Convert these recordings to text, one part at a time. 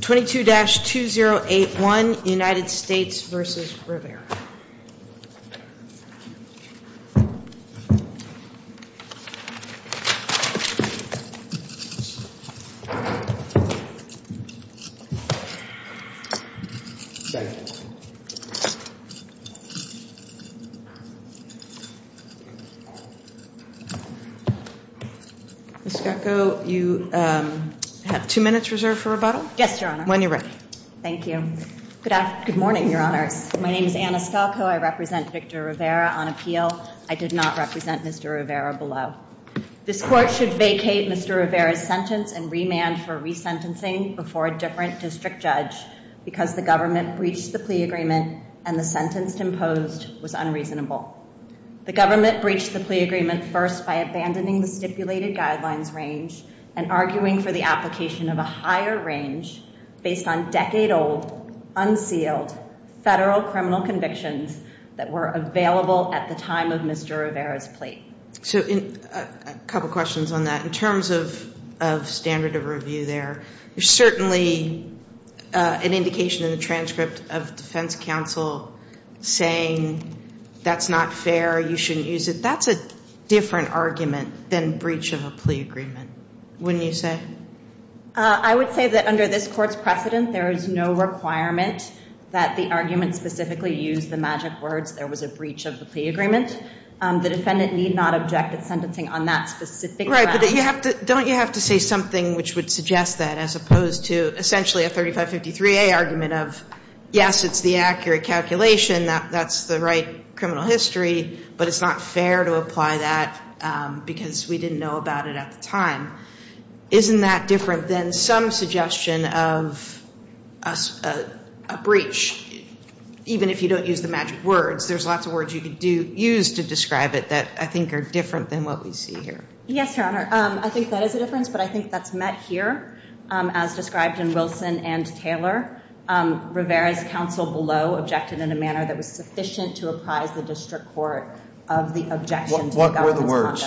22-2081, United States v. Rivera. Ms. Gatko, you have two minutes reserved for rebuttal. Yes, Your Honor. When you're ready. Thank you. Good morning, Your Honors. My name is Anna Skelko. I represent Victor Rivera on appeal. I did not represent Mr. Rivera below. This court should vacate Mr. Rivera's sentence and remand for resentencing before a different district judge because the government breached the plea agreement and the sentence imposed was unreasonable. The government breached the plea agreement first by abandoning the stipulated guidelines range and arguing for the application of a higher range based on decade-old, unsealed federal criminal convictions that were available at the time of Mr. Rivera's plea. So a couple questions on that. In terms of standard of review there, there's certainly an indication in the transcript of defense counsel saying that's not fair, you shouldn't use it. That's a different argument than breach of a plea agreement, wouldn't you say? I would say that under this court's precedent, there is no requirement that the argument specifically use the magic words, there was a breach of the plea agreement. The defendant need not object at sentencing on that specific grounds. Right, but don't you have to say something which would suggest that as opposed to essentially a 3553A argument of, yes, it's the accurate calculation, that's the right criminal history, but it's not fair to apply that because we didn't know about it at the time. Isn't that different than some suggestion of a breach? Even if you don't use the magic words, there's lots of words you could use to describe it that I think are different than what we see here. Yes, Your Honor, I think that is a difference, but I think that's met here as described in Wilson and Taylor. Rivera's counsel below objected in a manner that was sufficient to apprise the district court of the objection. What were the words?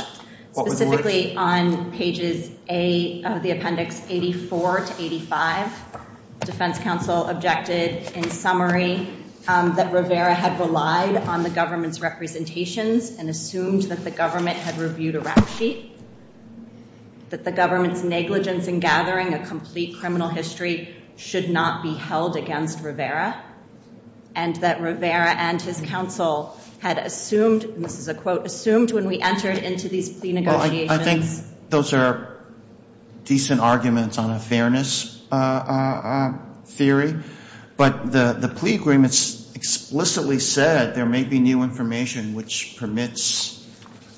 Specifically on pages A of the appendix 84 to 85, defense counsel objected in summary that Rivera had relied on the government's representations and assumed that the government had reviewed a rap sheet, that the government's negligence in gathering a complete criminal history should not be held against Rivera, and that Rivera and his counsel had assumed, and this is a quote, assumed when we entered into these plea negotiations. I think those are decent arguments on a fairness theory, but the plea agreements explicitly said there may be new information which permits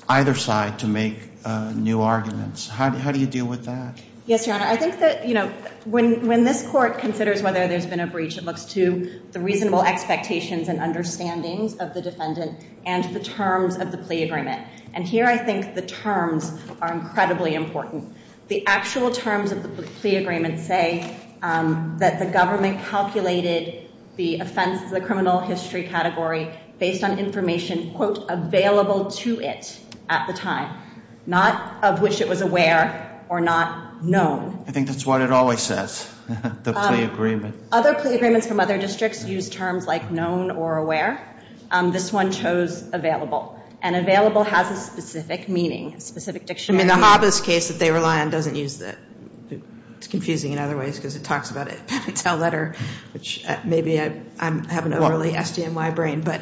either side to make new arguments. How do you deal with that? Yes, Your Honor, I think that, you know, when this court considers whether there's been a breach, it looks to the reasonable expectations and understandings of the defendant and the terms of the plea agreement, and here I think the terms are incredibly important. The actual terms of the plea agreement say that the government calculated the offense, the criminal history category, based on information, quote, available to it at the time, not of which it was aware or not known. I think that's what it always says, the plea agreement. Other plea agreements from other districts use terms like known or aware. This one chose available, and available has a specific meaning, a specific dictionary. I mean, the Hobbes case that they rely on doesn't use that. It's confusing in other ways because it talks about a pen and tell letter, which maybe I have an overly SDNY brain, but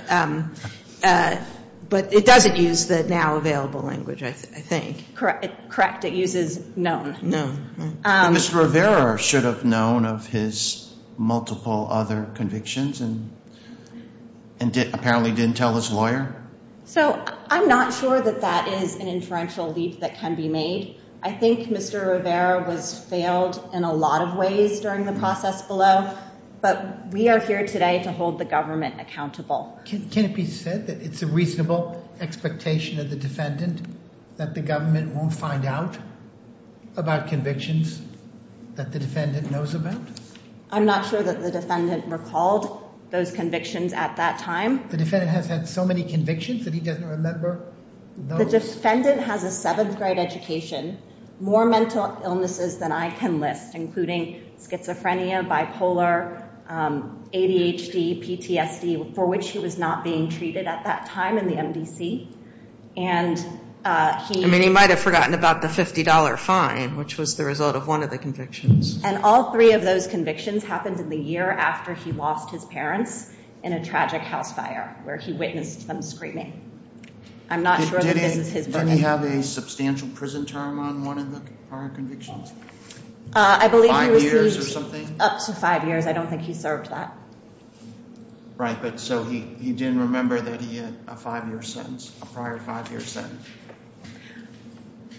it doesn't use the now available language, I think. Correct, it uses known. Mr. Rivera should have known of his multiple other convictions and apparently didn't tell his lawyer. So I'm not sure that that is an inferential leap that can be made. I think Mr. Rivera was failed in a lot of ways during the process below, but we are here today to hold the government accountable. Can it be said that it's a reasonable expectation of the defendant that the government won't find out about convictions that the defendant knows about? I'm not sure that the defendant recalled those convictions at that time. The defendant has had so many convictions that he doesn't remember those. The defendant has a seventh grade education, more mental illnesses than I can list, including schizophrenia, bipolar, ADHD, PTSD, for which he was not being treated at that time in the MDC. I mean, he might have forgotten about the $50 fine, which was the result of one of the convictions. And all three of those convictions happened in the year after he lost his parents in a tragic house fire, where he witnessed them screaming. I'm not sure that this is his memory. Didn't he have a substantial prison term on one of the prior convictions? Five years or something? I believe he received up to five years. I don't think he served that. Right, but so he didn't remember that he had a five-year sentence, a prior five-year sentence.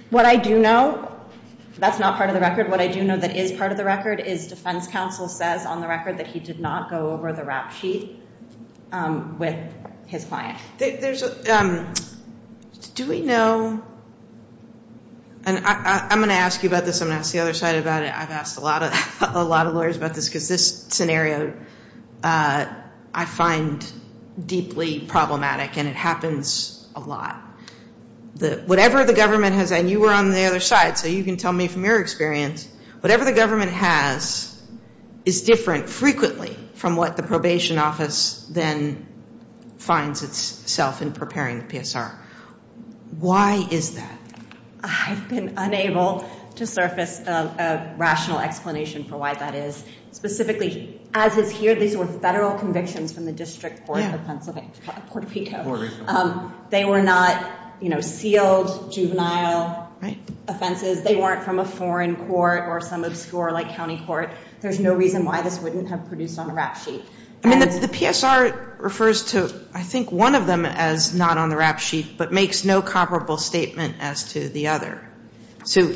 What I do know, that's not part of the record. What I do know that is part of the record is defense counsel says on the record that he did not go over the rap sheet with his client. Do we know, and I'm going to ask you about this. I'm going to ask the other side about it. I've asked a lot of lawyers about this because this scenario I find deeply problematic, and it happens a lot. Whatever the government has, and you were on the other side, so you can tell me from your experience. Whatever the government has is different frequently from what the probation office then finds itself in preparing the PSR. Why is that? I've been unable to surface a rational explanation for why that is. Specifically, as is here, these were Federal convictions from the District Court of Pennsylvania, Puerto Rico. Puerto Rico. They were not, you know, sealed, juvenile offenses. They weren't from a foreign court or some obscure, like, county court. There's no reason why this wouldn't have produced on a rap sheet. I mean, the PSR refers to, I think, one of them as not on the rap sheet, but makes no comparable statement as to the other. So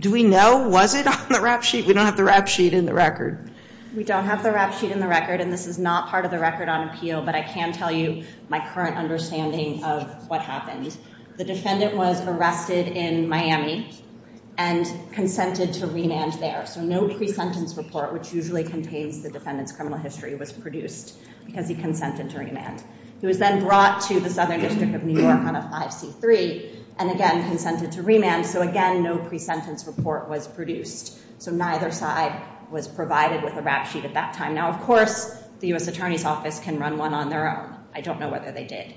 do we know? Was it on the rap sheet? We don't have the rap sheet in the record. We don't have the rap sheet in the record, and this is not part of the record on appeal, but I can tell you my current understanding of what happened. The defendant was arrested in Miami and consented to remand there. So no pre-sentence report, which usually contains the defendant's criminal history, was produced because he consented to remand. He was then brought to the Southern District of New York on a 5C3 and, again, consented to remand. So, again, no pre-sentence report was produced. So neither side was provided with a rap sheet at that time. Now, of course, the U.S. Attorney's Office can run one on their own. I don't know whether they did.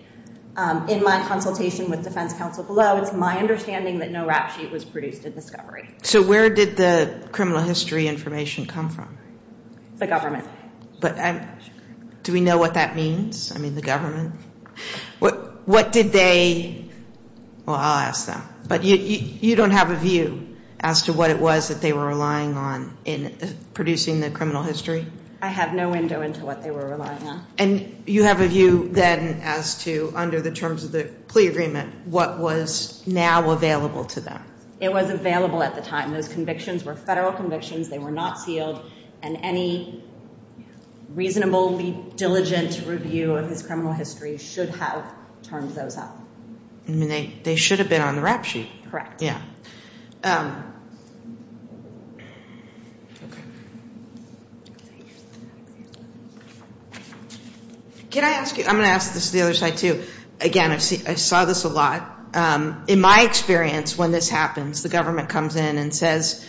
In my consultation with defense counsel below, it's my understanding that no rap sheet was produced at discovery. So where did the criminal history information come from? The government. Do we know what that means? I mean, the government? What did they – well, I'll ask them. But you don't have a view as to what it was that they were relying on in producing the criminal history? I have no window into what they were relying on. And you have a view then as to, under the terms of the plea agreement, what was now available to them? It was available at the time. Those convictions were federal convictions. They were not sealed. And any reasonably diligent review of his criminal history should have turned those up. I mean, they should have been on the rap sheet. Correct. Yeah. Can I ask you – I'm going to ask this to the other side too. Again, I saw this a lot. In my experience, when this happens, the government comes in and says,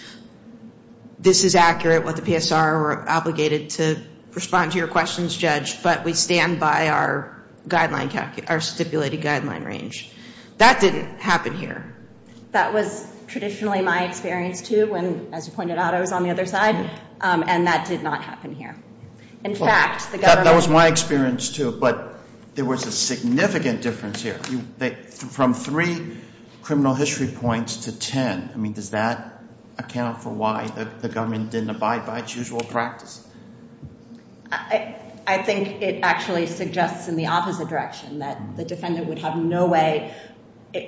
this is accurate with the PSR, we're obligated to respond to your questions, Judge, but we stand by our guideline – our stipulated guideline range. That didn't happen here. That was traditionally my experience too when, as you pointed out, I was on the other side. And that did not happen here. In fact, the government – That was my experience too. But there was a significant difference here. From three criminal history points to ten, I mean, does that account for why the government didn't abide by its usual practice? I think it actually suggests in the opposite direction, that the defendant would have no way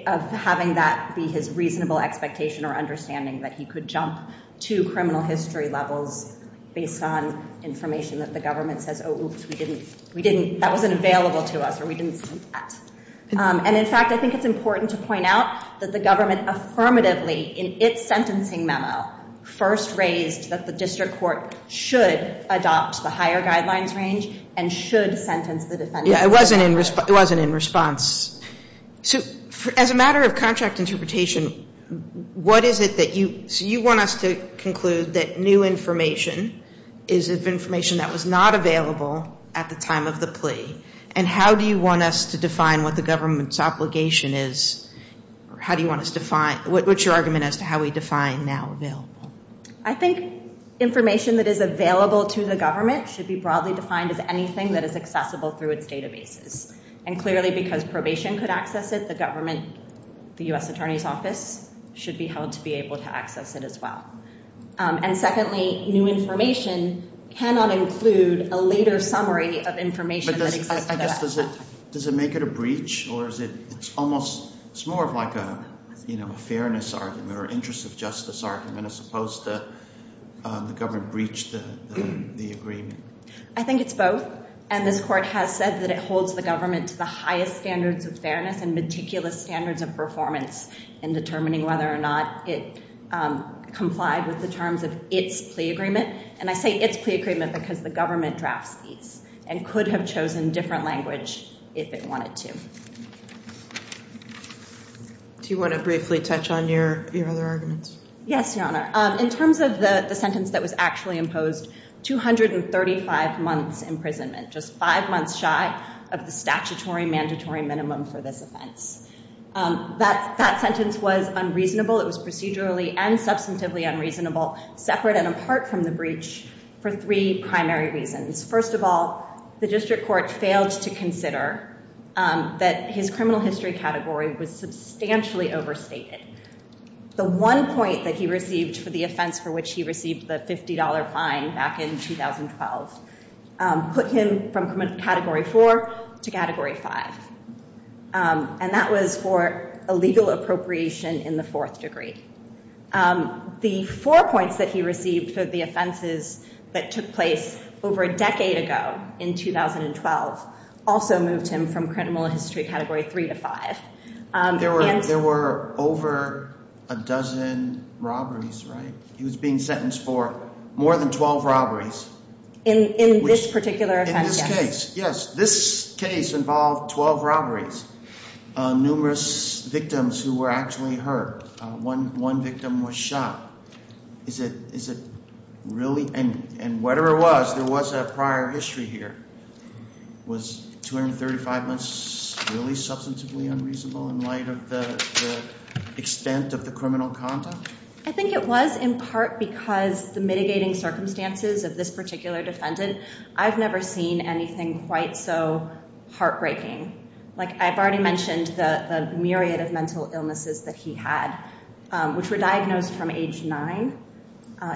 of having that be his reasonable expectation or understanding that he could jump to criminal history levels based on information that the government says, oh, oops, we didn't – that wasn't available to us or we didn't see that. And in fact, I think it's important to point out that the government affirmatively, in its sentencing memo, first raised that the district court should adopt the higher guidelines range and should sentence the defendant. Yeah, it wasn't in response. So as a matter of contract interpretation, what is it that you – so you want us to conclude that new information is information that was not available at the time of the plea. And how do you want us to define what the government's obligation is? How do you want us to define – what's your argument as to how we define now available? I think information that is available to the government should be broadly defined as anything that is accessible through its databases. And clearly, because probation could access it, the government, the U.S. Attorney's Office, should be held to be able to access it as well. And secondly, new information cannot include a later summary of information that exists at that time. But I guess does it make it a breach or is it – it's almost – it's more of like a fairness argument or interest of justice argument as opposed to the government breached the agreement. I think it's both. And this court has said that it holds the government to the highest standards of fairness and meticulous standards of performance in determining whether or not it complied with the terms of its plea agreement. And I say its plea agreement because the government drafts these and could have chosen different language if it wanted to. Do you want to briefly touch on your other arguments? Yes, Your Honor. In terms of the sentence that was actually imposed, 235 months imprisonment, just five months shy of the statutory mandatory minimum for this offense. That sentence was unreasonable. It was procedurally and substantively unreasonable, separate and apart from the breach for three primary reasons. First of all, the district court failed to consider that his criminal history category was substantially overstated. The one point that he received for the offense for which he received the $50 fine back in 2012 put him from category four to category five. And that was for illegal appropriation in the fourth degree. The four points that he received for the offenses that took place over a decade ago in 2012 also moved him from criminal history category three to five. There were over a dozen robberies, right? He was being sentenced for more than 12 robberies. In this particular offense, yes. In this case, yes. This case involved 12 robberies, numerous victims who were actually hurt. One victim was shot. Is it really? And whatever it was, there was a prior history here. Was 235 months really substantively unreasonable in light of the extent of the criminal conduct? I think it was in part because the mitigating circumstances of this particular defendant. I've never seen anything quite so heartbreaking. Like I've already mentioned the myriad of mental illnesses that he had, which were diagnosed from age nine.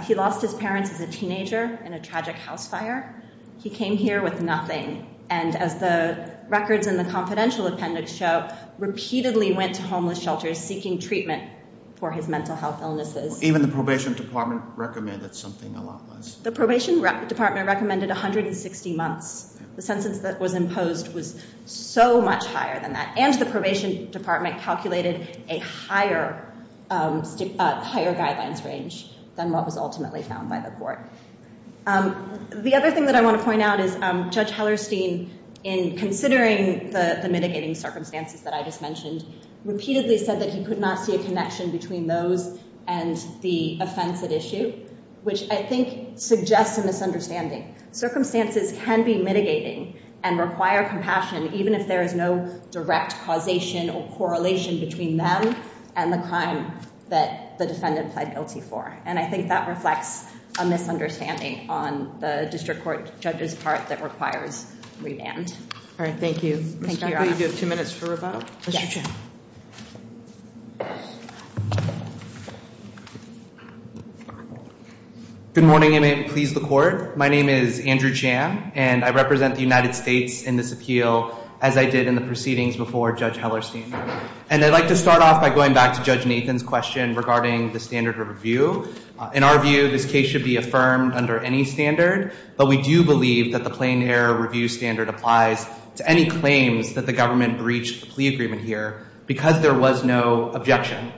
He lost his parents as a teenager in a tragic house fire. He came here with nothing. And as the records in the confidential appendix show, repeatedly went to homeless shelters seeking treatment for his mental health illnesses. Even the probation department recommended something a lot less. The probation department recommended 160 months. The sentence that was imposed was so much higher than that. And the probation department calculated a higher guidelines range than what was ultimately found by the court. The other thing that I want to point out is Judge Hellerstein, in considering the mitigating circumstances that I just mentioned, repeatedly said that he could not see a connection between those and the offense at issue, which I think suggests a misunderstanding. Circumstances can be mitigating and require compassion, even if there is no direct causation or correlation between them and the crime that the defendant pled guilty for. And I think that reflects a misunderstanding on the district court judge's part that requires remand. All right, thank you. Mr. Hellerstein, do you have two minutes for a vote? Yes. Good morning and may it please the court. My name is Andrew Chan, and I represent the United States in this appeal, as I did in the proceedings before Judge Hellerstein. And I'd like to start off by going back to Judge Nathan's question regarding the standard of review. In our view, this case should be affirmed under any standard, but we do believe that the plain error review standard applies to any claims that the government breached the plea agreement here because there was no objection.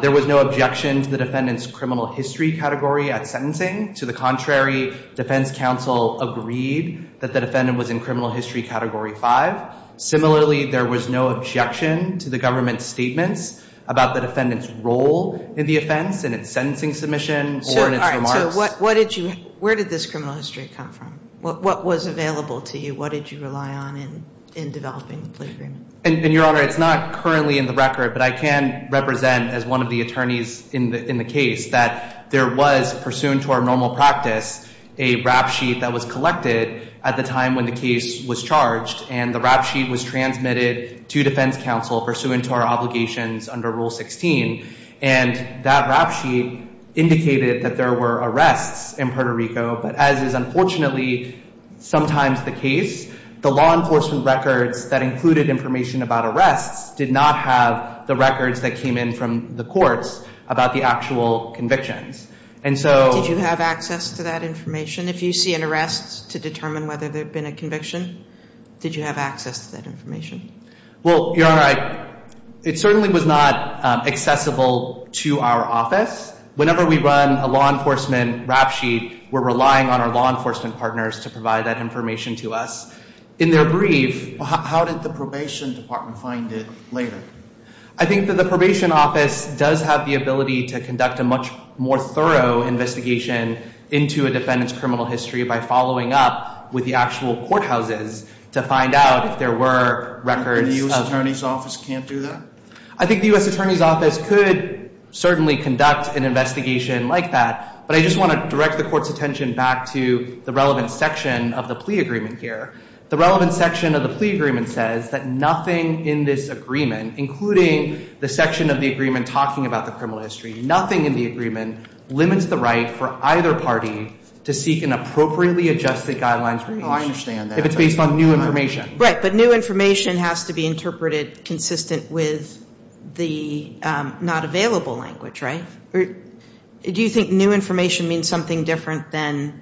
There was no objection to the defendant's criminal history category at sentencing. To the contrary, defense counsel agreed that the defendant was in criminal history category 5. Similarly, there was no objection to the government's statements about the defendant's role in the offense in its sentencing submission or in its remarks. All right, so where did this criminal history come from? What was available to you? What did you rely on in developing the plea agreement? And, Your Honor, it's not currently in the record, but I can represent as one of the attorneys in the case that there was, pursuant to our normal practice, a rap sheet that was collected at the time when the case was charged, and the rap sheet was transmitted to defense counsel pursuant to our obligations under Rule 16. And that rap sheet indicated that there were arrests in Puerto Rico, but as is unfortunately sometimes the case, the law enforcement records that included information about arrests did not have the records that came in from the courts about the actual convictions. And so... Did you have access to that information? If you see an arrest to determine whether there had been a conviction, did you have access to that information? Well, Your Honor, it certainly was not accessible to our office. Whenever we run a law enforcement rap sheet, we're relying on our law enforcement partners to provide that information to us. In their brief... How did the probation department find it later? I think that the probation office does have the ability to conduct a much more thorough investigation into a defendant's criminal history by following up with the actual courthouses to find out if there were records of... And the U.S. Attorney's Office can't do that? I think the U.S. Attorney's Office could certainly conduct an investigation like that, but I just want to direct the court's attention back to the relevant section of the plea agreement here. The relevant section of the plea agreement says that nothing in this agreement, including the section of the agreement talking about the criminal history, nothing in the agreement limits the right for either party to seek an appropriately adjusted guidelines... Oh, I understand that. ...if it's based on new information. Right, but new information has to be interpreted consistent with the not available language, right? Do you think new information means something different than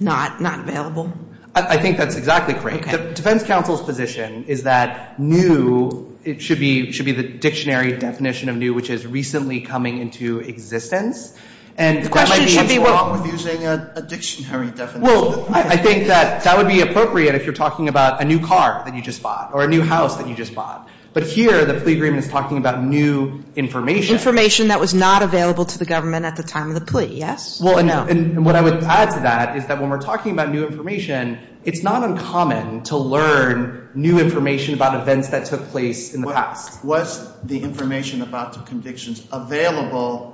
not available? I think that's exactly correct. Okay. The defense counsel's position is that new should be the dictionary definition of new, which is recently coming into existence. The question should be... And that might be wrong with using a dictionary definition. Well, I think that that would be appropriate if you're talking about a new car that you just bought or a new house that you just bought, but here the plea agreement is talking about new information. Information that was not available to the government at the time of the plea, yes? Well, and what I would add to that is that when we're talking about new information, it's not uncommon to learn new information about events that took place in the past. Was the information about the convictions available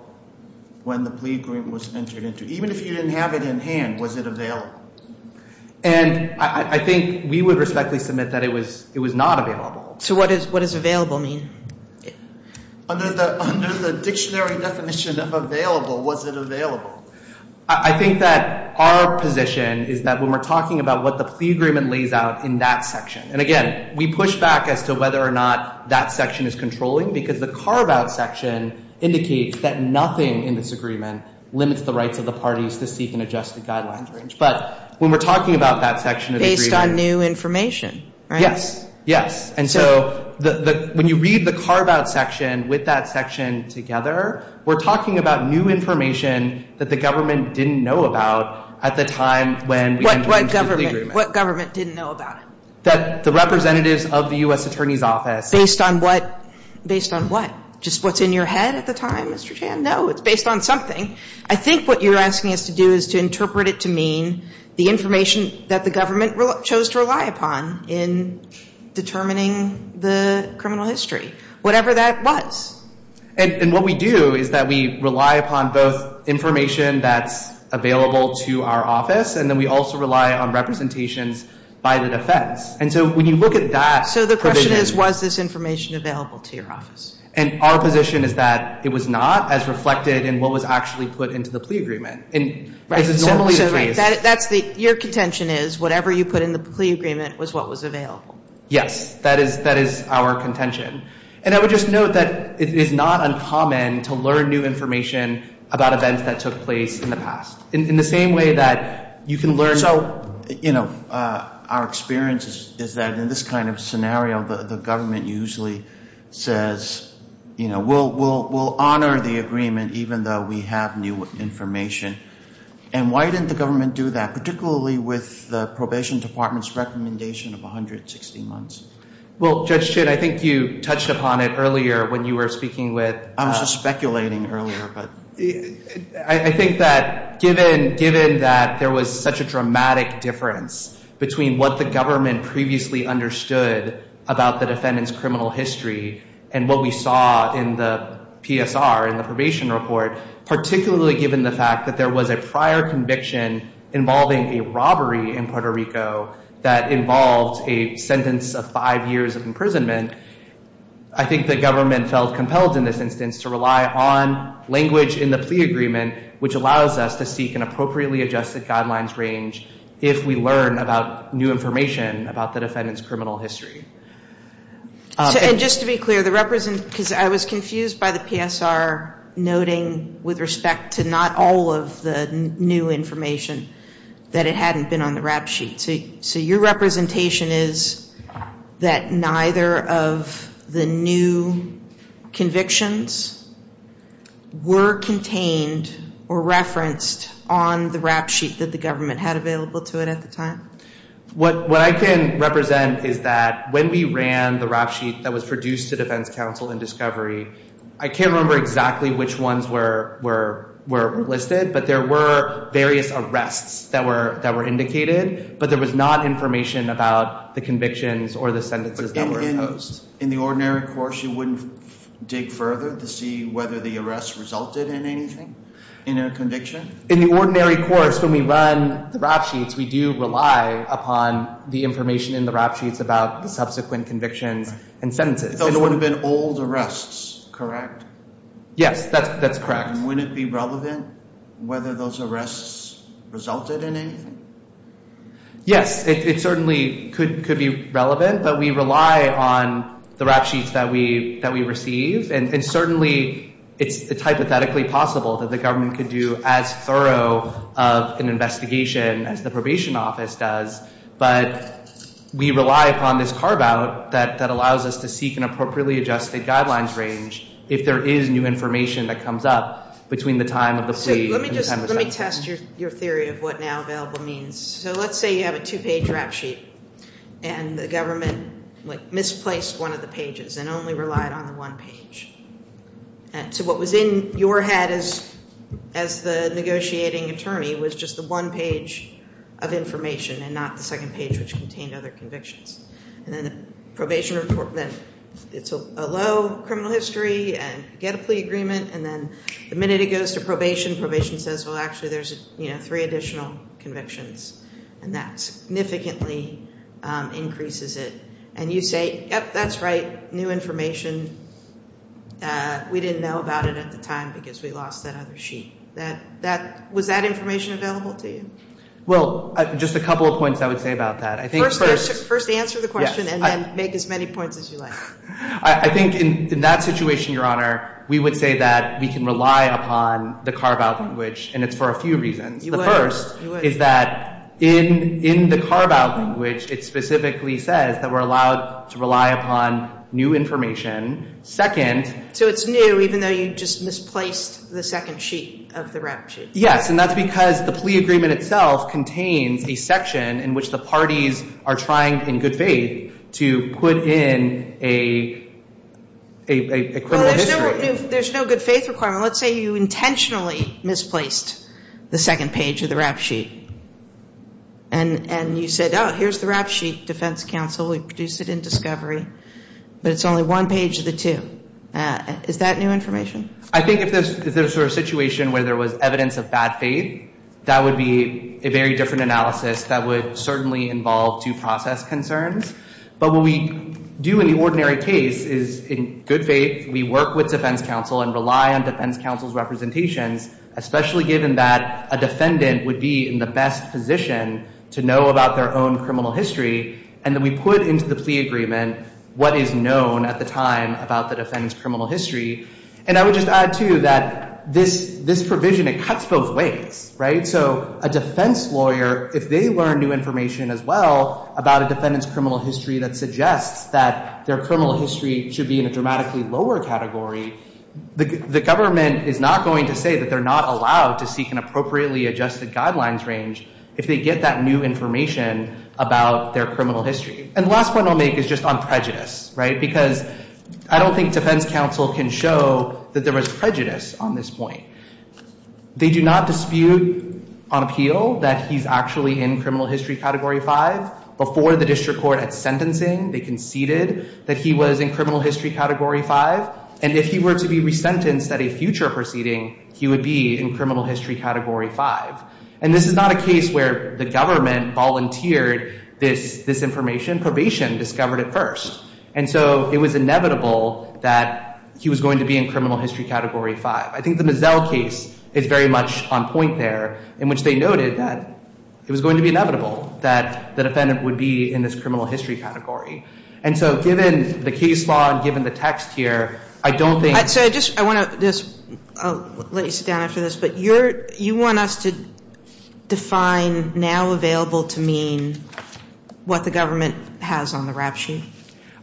when the plea agreement was entered into? Even if you didn't have it in hand, was it available? And I think we would respectfully submit that it was not available. So what does available mean? Under the dictionary definition of available, was it available? I think that our position is that when we're talking about what the plea agreement lays out in that section, and, again, we push back as to whether or not that section is controlling because the carve-out section indicates that nothing in this agreement limits the rights of the parties to seek an adjusted guidelines range. But when we're talking about that section of agreement... Based on new information, right? Yes, yes. And so when you read the carve-out section with that section together, we're talking about new information that the government didn't know about at the time when we entered into the agreement. What government didn't know about it? That the representatives of the U.S. Attorney's Office... Based on what? Based on what? Just what's in your head at the time, Mr. Chan? No, it's based on something. I think what you're asking us to do is to interpret it to mean the information that the government chose to rely upon in determining the criminal history, whatever that was. And what we do is that we rely upon both information that's available to our office, and then we also rely on representations by the defense. And so when you look at that provision... So the question is, was this information available to your office? And our position is that it was not, as reflected in what was actually put into the plea agreement. So, right, your contention is whatever you put in the plea agreement was what was available. Yes, that is our contention. And I would just note that it is not uncommon to learn new information about events that took place in the past. In the same way that you can learn... So, you know, our experience is that in this kind of scenario, the government usually says, you know, we'll honor the agreement even though we have new information. And why didn't the government do that, particularly with the probation department's recommendation of 160 months? Well, Judge Chin, I think you touched upon it earlier when you were speaking with... I was just speculating earlier, but... I think that given that there was such a dramatic difference between what the government previously understood about the defendant's criminal history and what we saw in the PSR, in the probation report, particularly given the fact that there was a prior conviction involving a robbery in Puerto Rico that involved a sentence of five years of imprisonment, I think the government felt compelled in this instance to rely on language in the plea agreement which allows us to seek an appropriately adjusted guidelines range if we learn about new information about the defendant's criminal history. And just to be clear, the represent... Because I was confused by the PSR noting with respect to not all of the new information that it hadn't been on the rap sheet. So your representation is that neither of the new convictions were contained or referenced on the rap sheet that the government had available to it at the time? What I can represent is that when we ran the rap sheet that was produced to defense counsel in discovery, I can't remember exactly which ones were listed, but there were various arrests that were indicated, but there was not information about the convictions or the sentences that were imposed. In the ordinary course, you wouldn't dig further to see whether the arrest resulted in anything? In a conviction? In the ordinary course, when we run the rap sheets, we do rely upon the information in the rap sheets about the subsequent convictions and sentences. Those would have been old arrests, correct? Yes, that's correct. And wouldn't it be relevant whether those arrests resulted in anything? Yes, it certainly could be relevant, but we rely on the rap sheets that we receive, and certainly it's hypothetically possible that the government could do as thorough of an investigation as the probation office does. But we rely upon this carve-out that allows us to seek an appropriately adjusted guidelines range if there is new information that comes up between the time of the plea and the time of the sentence. Let me test your theory of what now available means. So let's say you have a two-page rap sheet, and the government misplaced one of the pages and only relied on the one page. So what was in your head as the negotiating attorney was just the one page of information and not the second page, which contained other convictions. And then it's a low criminal history, and you get a plea agreement, and then the minute it goes to probation, probation says, well, actually there's three additional convictions, and that significantly increases it. And you say, yep, that's right, new information. We didn't know about it at the time because we lost that other sheet. Was that information available to you? Well, just a couple of points I would say about that. First answer the question and then make as many points as you like. I think in that situation, Your Honor, we would say that we can rely upon the carve-out language, and it's for a few reasons. You would. The first is that in the carve-out language, it specifically says that we're allowed to rely upon new information. Second. So it's new even though you just misplaced the second sheet of the rap sheet. Yes, and that's because the plea agreement itself contains a section in which the parties are trying in good faith to put in a criminal history. Well, there's no good faith requirement. Let's say you intentionally misplaced the second page of the rap sheet, and you said, oh, here's the rap sheet, defense counsel. We produced it in discovery, but it's only one page of the two. Is that new information? I think if this were a situation where there was evidence of bad faith, that would be a very different analysis that would certainly involve two process concerns. But what we do in the ordinary case is in good faith, we work with defense counsel and rely on defense counsel's representations, especially given that a defendant would be in the best position to know about their own criminal history, and then we put into the plea agreement what is known at the time about the defendant's criminal history. And I would just add, too, that this provision, it cuts both ways, right? So a defense lawyer, if they learn new information as well about a defendant's criminal history that suggests that their criminal history should be in a dramatically lower category, the government is not going to say that they're not allowed to seek an appropriately adjusted guidelines range if they get that new information about their criminal history. And the last point I'll make is just on prejudice, right? Because I don't think defense counsel can show that there was prejudice on this point. They do not dispute on appeal that he's actually in criminal history category 5. Before the district court at sentencing, they conceded that he was in criminal history category 5. And if he were to be resentenced at a future proceeding, he would be in criminal history category 5. And this is not a case where the government volunteered this information. Probation discovered it first. And so it was inevitable that he was going to be in criminal history category 5. I think the Mazzel case is very much on point there, in which they noted that it was going to be inevitable that the defendant would be in this criminal history category. And so given the case law and given the text here, I don't think— Sotomayor, I just want to let you sit down after this. But you want us to define now available to mean what the government has on the rap sheet,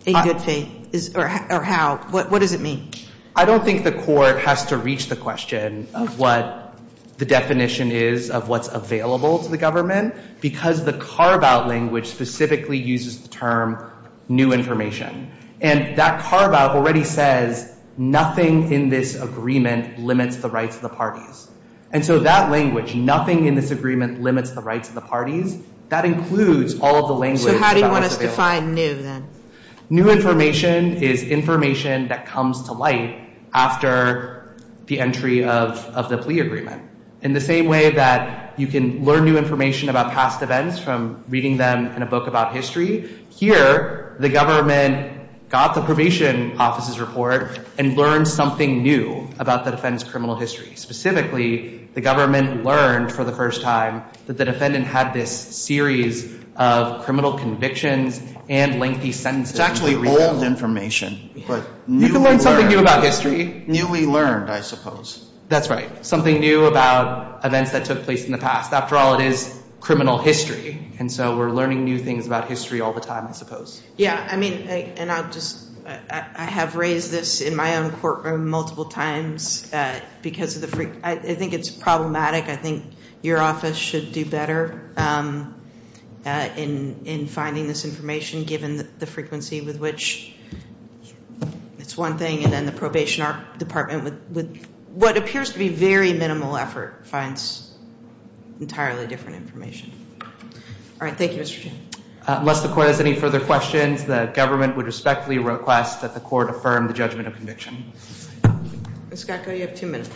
in good faith, or how. What does it mean? I don't think the court has to reach the question of what the definition is of what's available to the government because the carve-out language specifically uses the term new information. And that carve-out already says nothing in this agreement limits the rights of the parties. And so that language, nothing in this agreement limits the rights of the parties, that includes all of the language that's available. So how do you want us to define new then? New information is information that comes to light after the entry of the plea agreement. In the same way that you can learn new information about past events from reading them in a book about history, here the government got the probation office's report and learned something new about the defendant's criminal history. Specifically, the government learned for the first time that the defendant had this series of criminal convictions and lengthy sentences. It's actually old information, but newly learned. We can learn something new about history. Newly learned, I suppose. That's right. Something new about events that took place in the past. After all, it is criminal history. And so we're learning new things about history all the time, I suppose. Yeah. I mean, and I'll just, I have raised this in my own courtroom multiple times because of the, I think it's problematic. I think your office should do better in finding this information given the frequency with which. It's one thing. And then the probation department, with what appears to be very minimal effort, finds entirely different information. All right. Thank you, Mr. Chairman. Unless the court has any further questions, the government would respectfully request that the court affirm the judgment of conviction. Ms. Gatko, you have two minutes.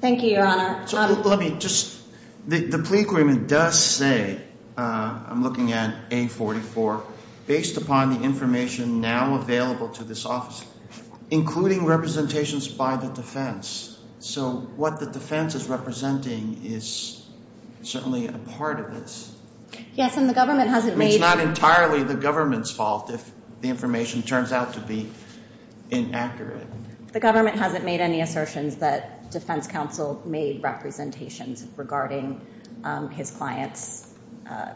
Thank you, Your Honor. So let me just, the plea agreement does say, I'm looking at A44, based upon the information now available to this office, including representations by the defense. So what the defense is representing is certainly a part of this. Yes, and the government hasn't made. It's not entirely the government's fault if the information turns out to be inaccurate. The government hasn't made any assertions that defense counsel made representations regarding his client's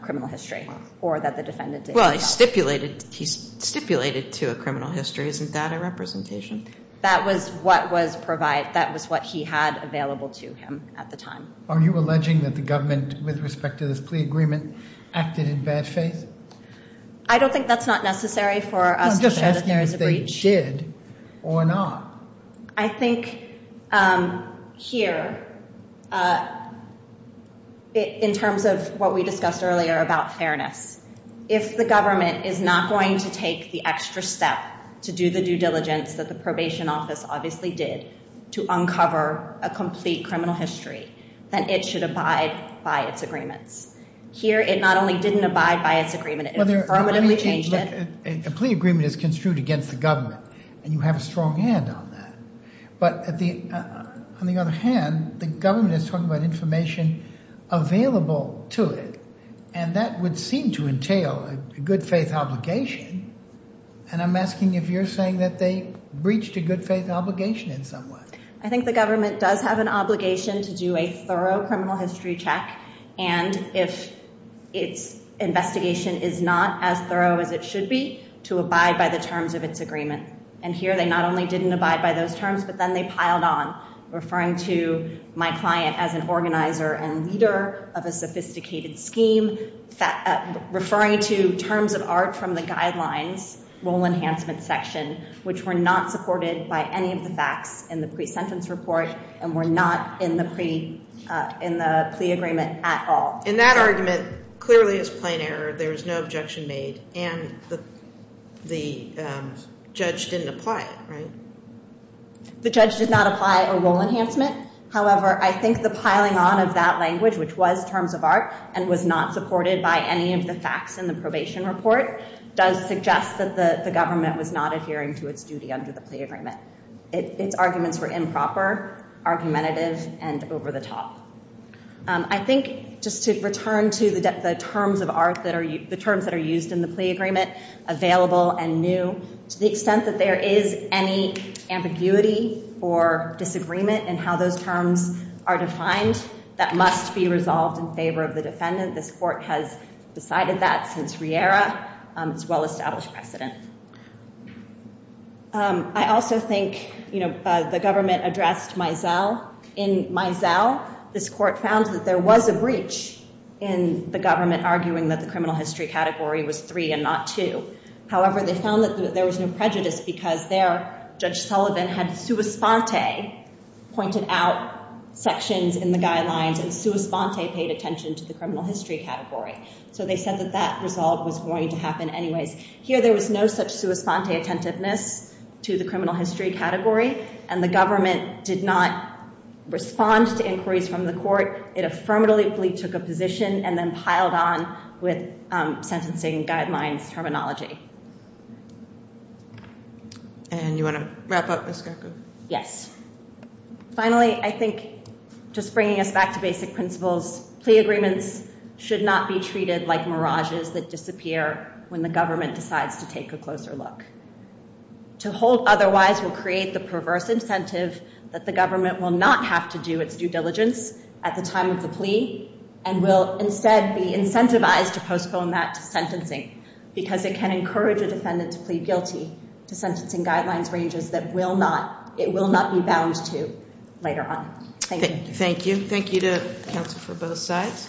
criminal history or that the defendant did not. Well, he stipulated to a criminal history. Isn't that a representation? That was what was provided. That was what he had available to him at the time. Are you alleging that the government, with respect to this plea agreement, acted in bad faith? I don't think that's not necessary for us to show that there is a breach. It should or not. I think here, in terms of what we discussed earlier about fairness, if the government is not going to take the extra step to do the due diligence that the probation office obviously did to uncover a complete criminal history, then it should abide by its agreements. Here it not only didn't abide by its agreement, it permanently changed it. A plea agreement is construed against the government, and you have a strong hand on that. But on the other hand, the government is talking about information available to it, and that would seem to entail a good faith obligation. And I'm asking if you're saying that they breached a good faith obligation in some way. I think the government does have an obligation to do a thorough criminal history check, and if its investigation is not as thorough as it should be, to abide by the terms of its agreement. And here they not only didn't abide by those terms, but then they piled on, referring to my client as an organizer and leader of a sophisticated scheme, referring to terms of art from the guidelines, role enhancement section, which were not supported by any of the facts in the pre-sentence report and were not in the plea agreement at all. And that argument clearly is plain error. There is no objection made, and the judge didn't apply it, right? The judge did not apply a role enhancement. However, I think the piling on of that language, which was terms of art and was not supported by any of the facts in the probation report, does suggest that the government was not adhering to its duty under the plea agreement. Its arguments were improper, argumentative, and over the top. I think just to return to the terms of art that are used in the plea agreement, available and new, to the extent that there is any ambiguity or disagreement in how those terms are defined, that must be resolved in favor of the defendant. This court has decided that since Riera. It's a well-established precedent. I also think the government addressed Mizell. In Mizell, this court found that there was a breach in the government arguing that the criminal history category was 3 and not 2. However, they found that there was no prejudice because there, Judge Sullivan had sua sponte pointed out sections in the guidelines, and sua sponte paid attention to the criminal history category. So they said that that result was going to happen anyways. Here, there was no such sua sponte attentiveness to the criminal history category, and the government did not respond to inquiries from the court. It affirmatively took a position and then piled on with sentencing guidelines terminology. And you want to wrap up, Ms. Greco? Yes. Finally, I think just bringing us back to basic principles, plea agreements should not be treated like mirages that disappear when the government decides to take a closer look. To hold otherwise will create the perverse incentive that the government will not have to do its due diligence at the time of the plea and will instead be incentivized to postpone that to sentencing because it can encourage a defendant to plead guilty to sentencing guidelines ranges that it will not be bound to later on. Thank you. Thank you. Thank you to counsel for both sides.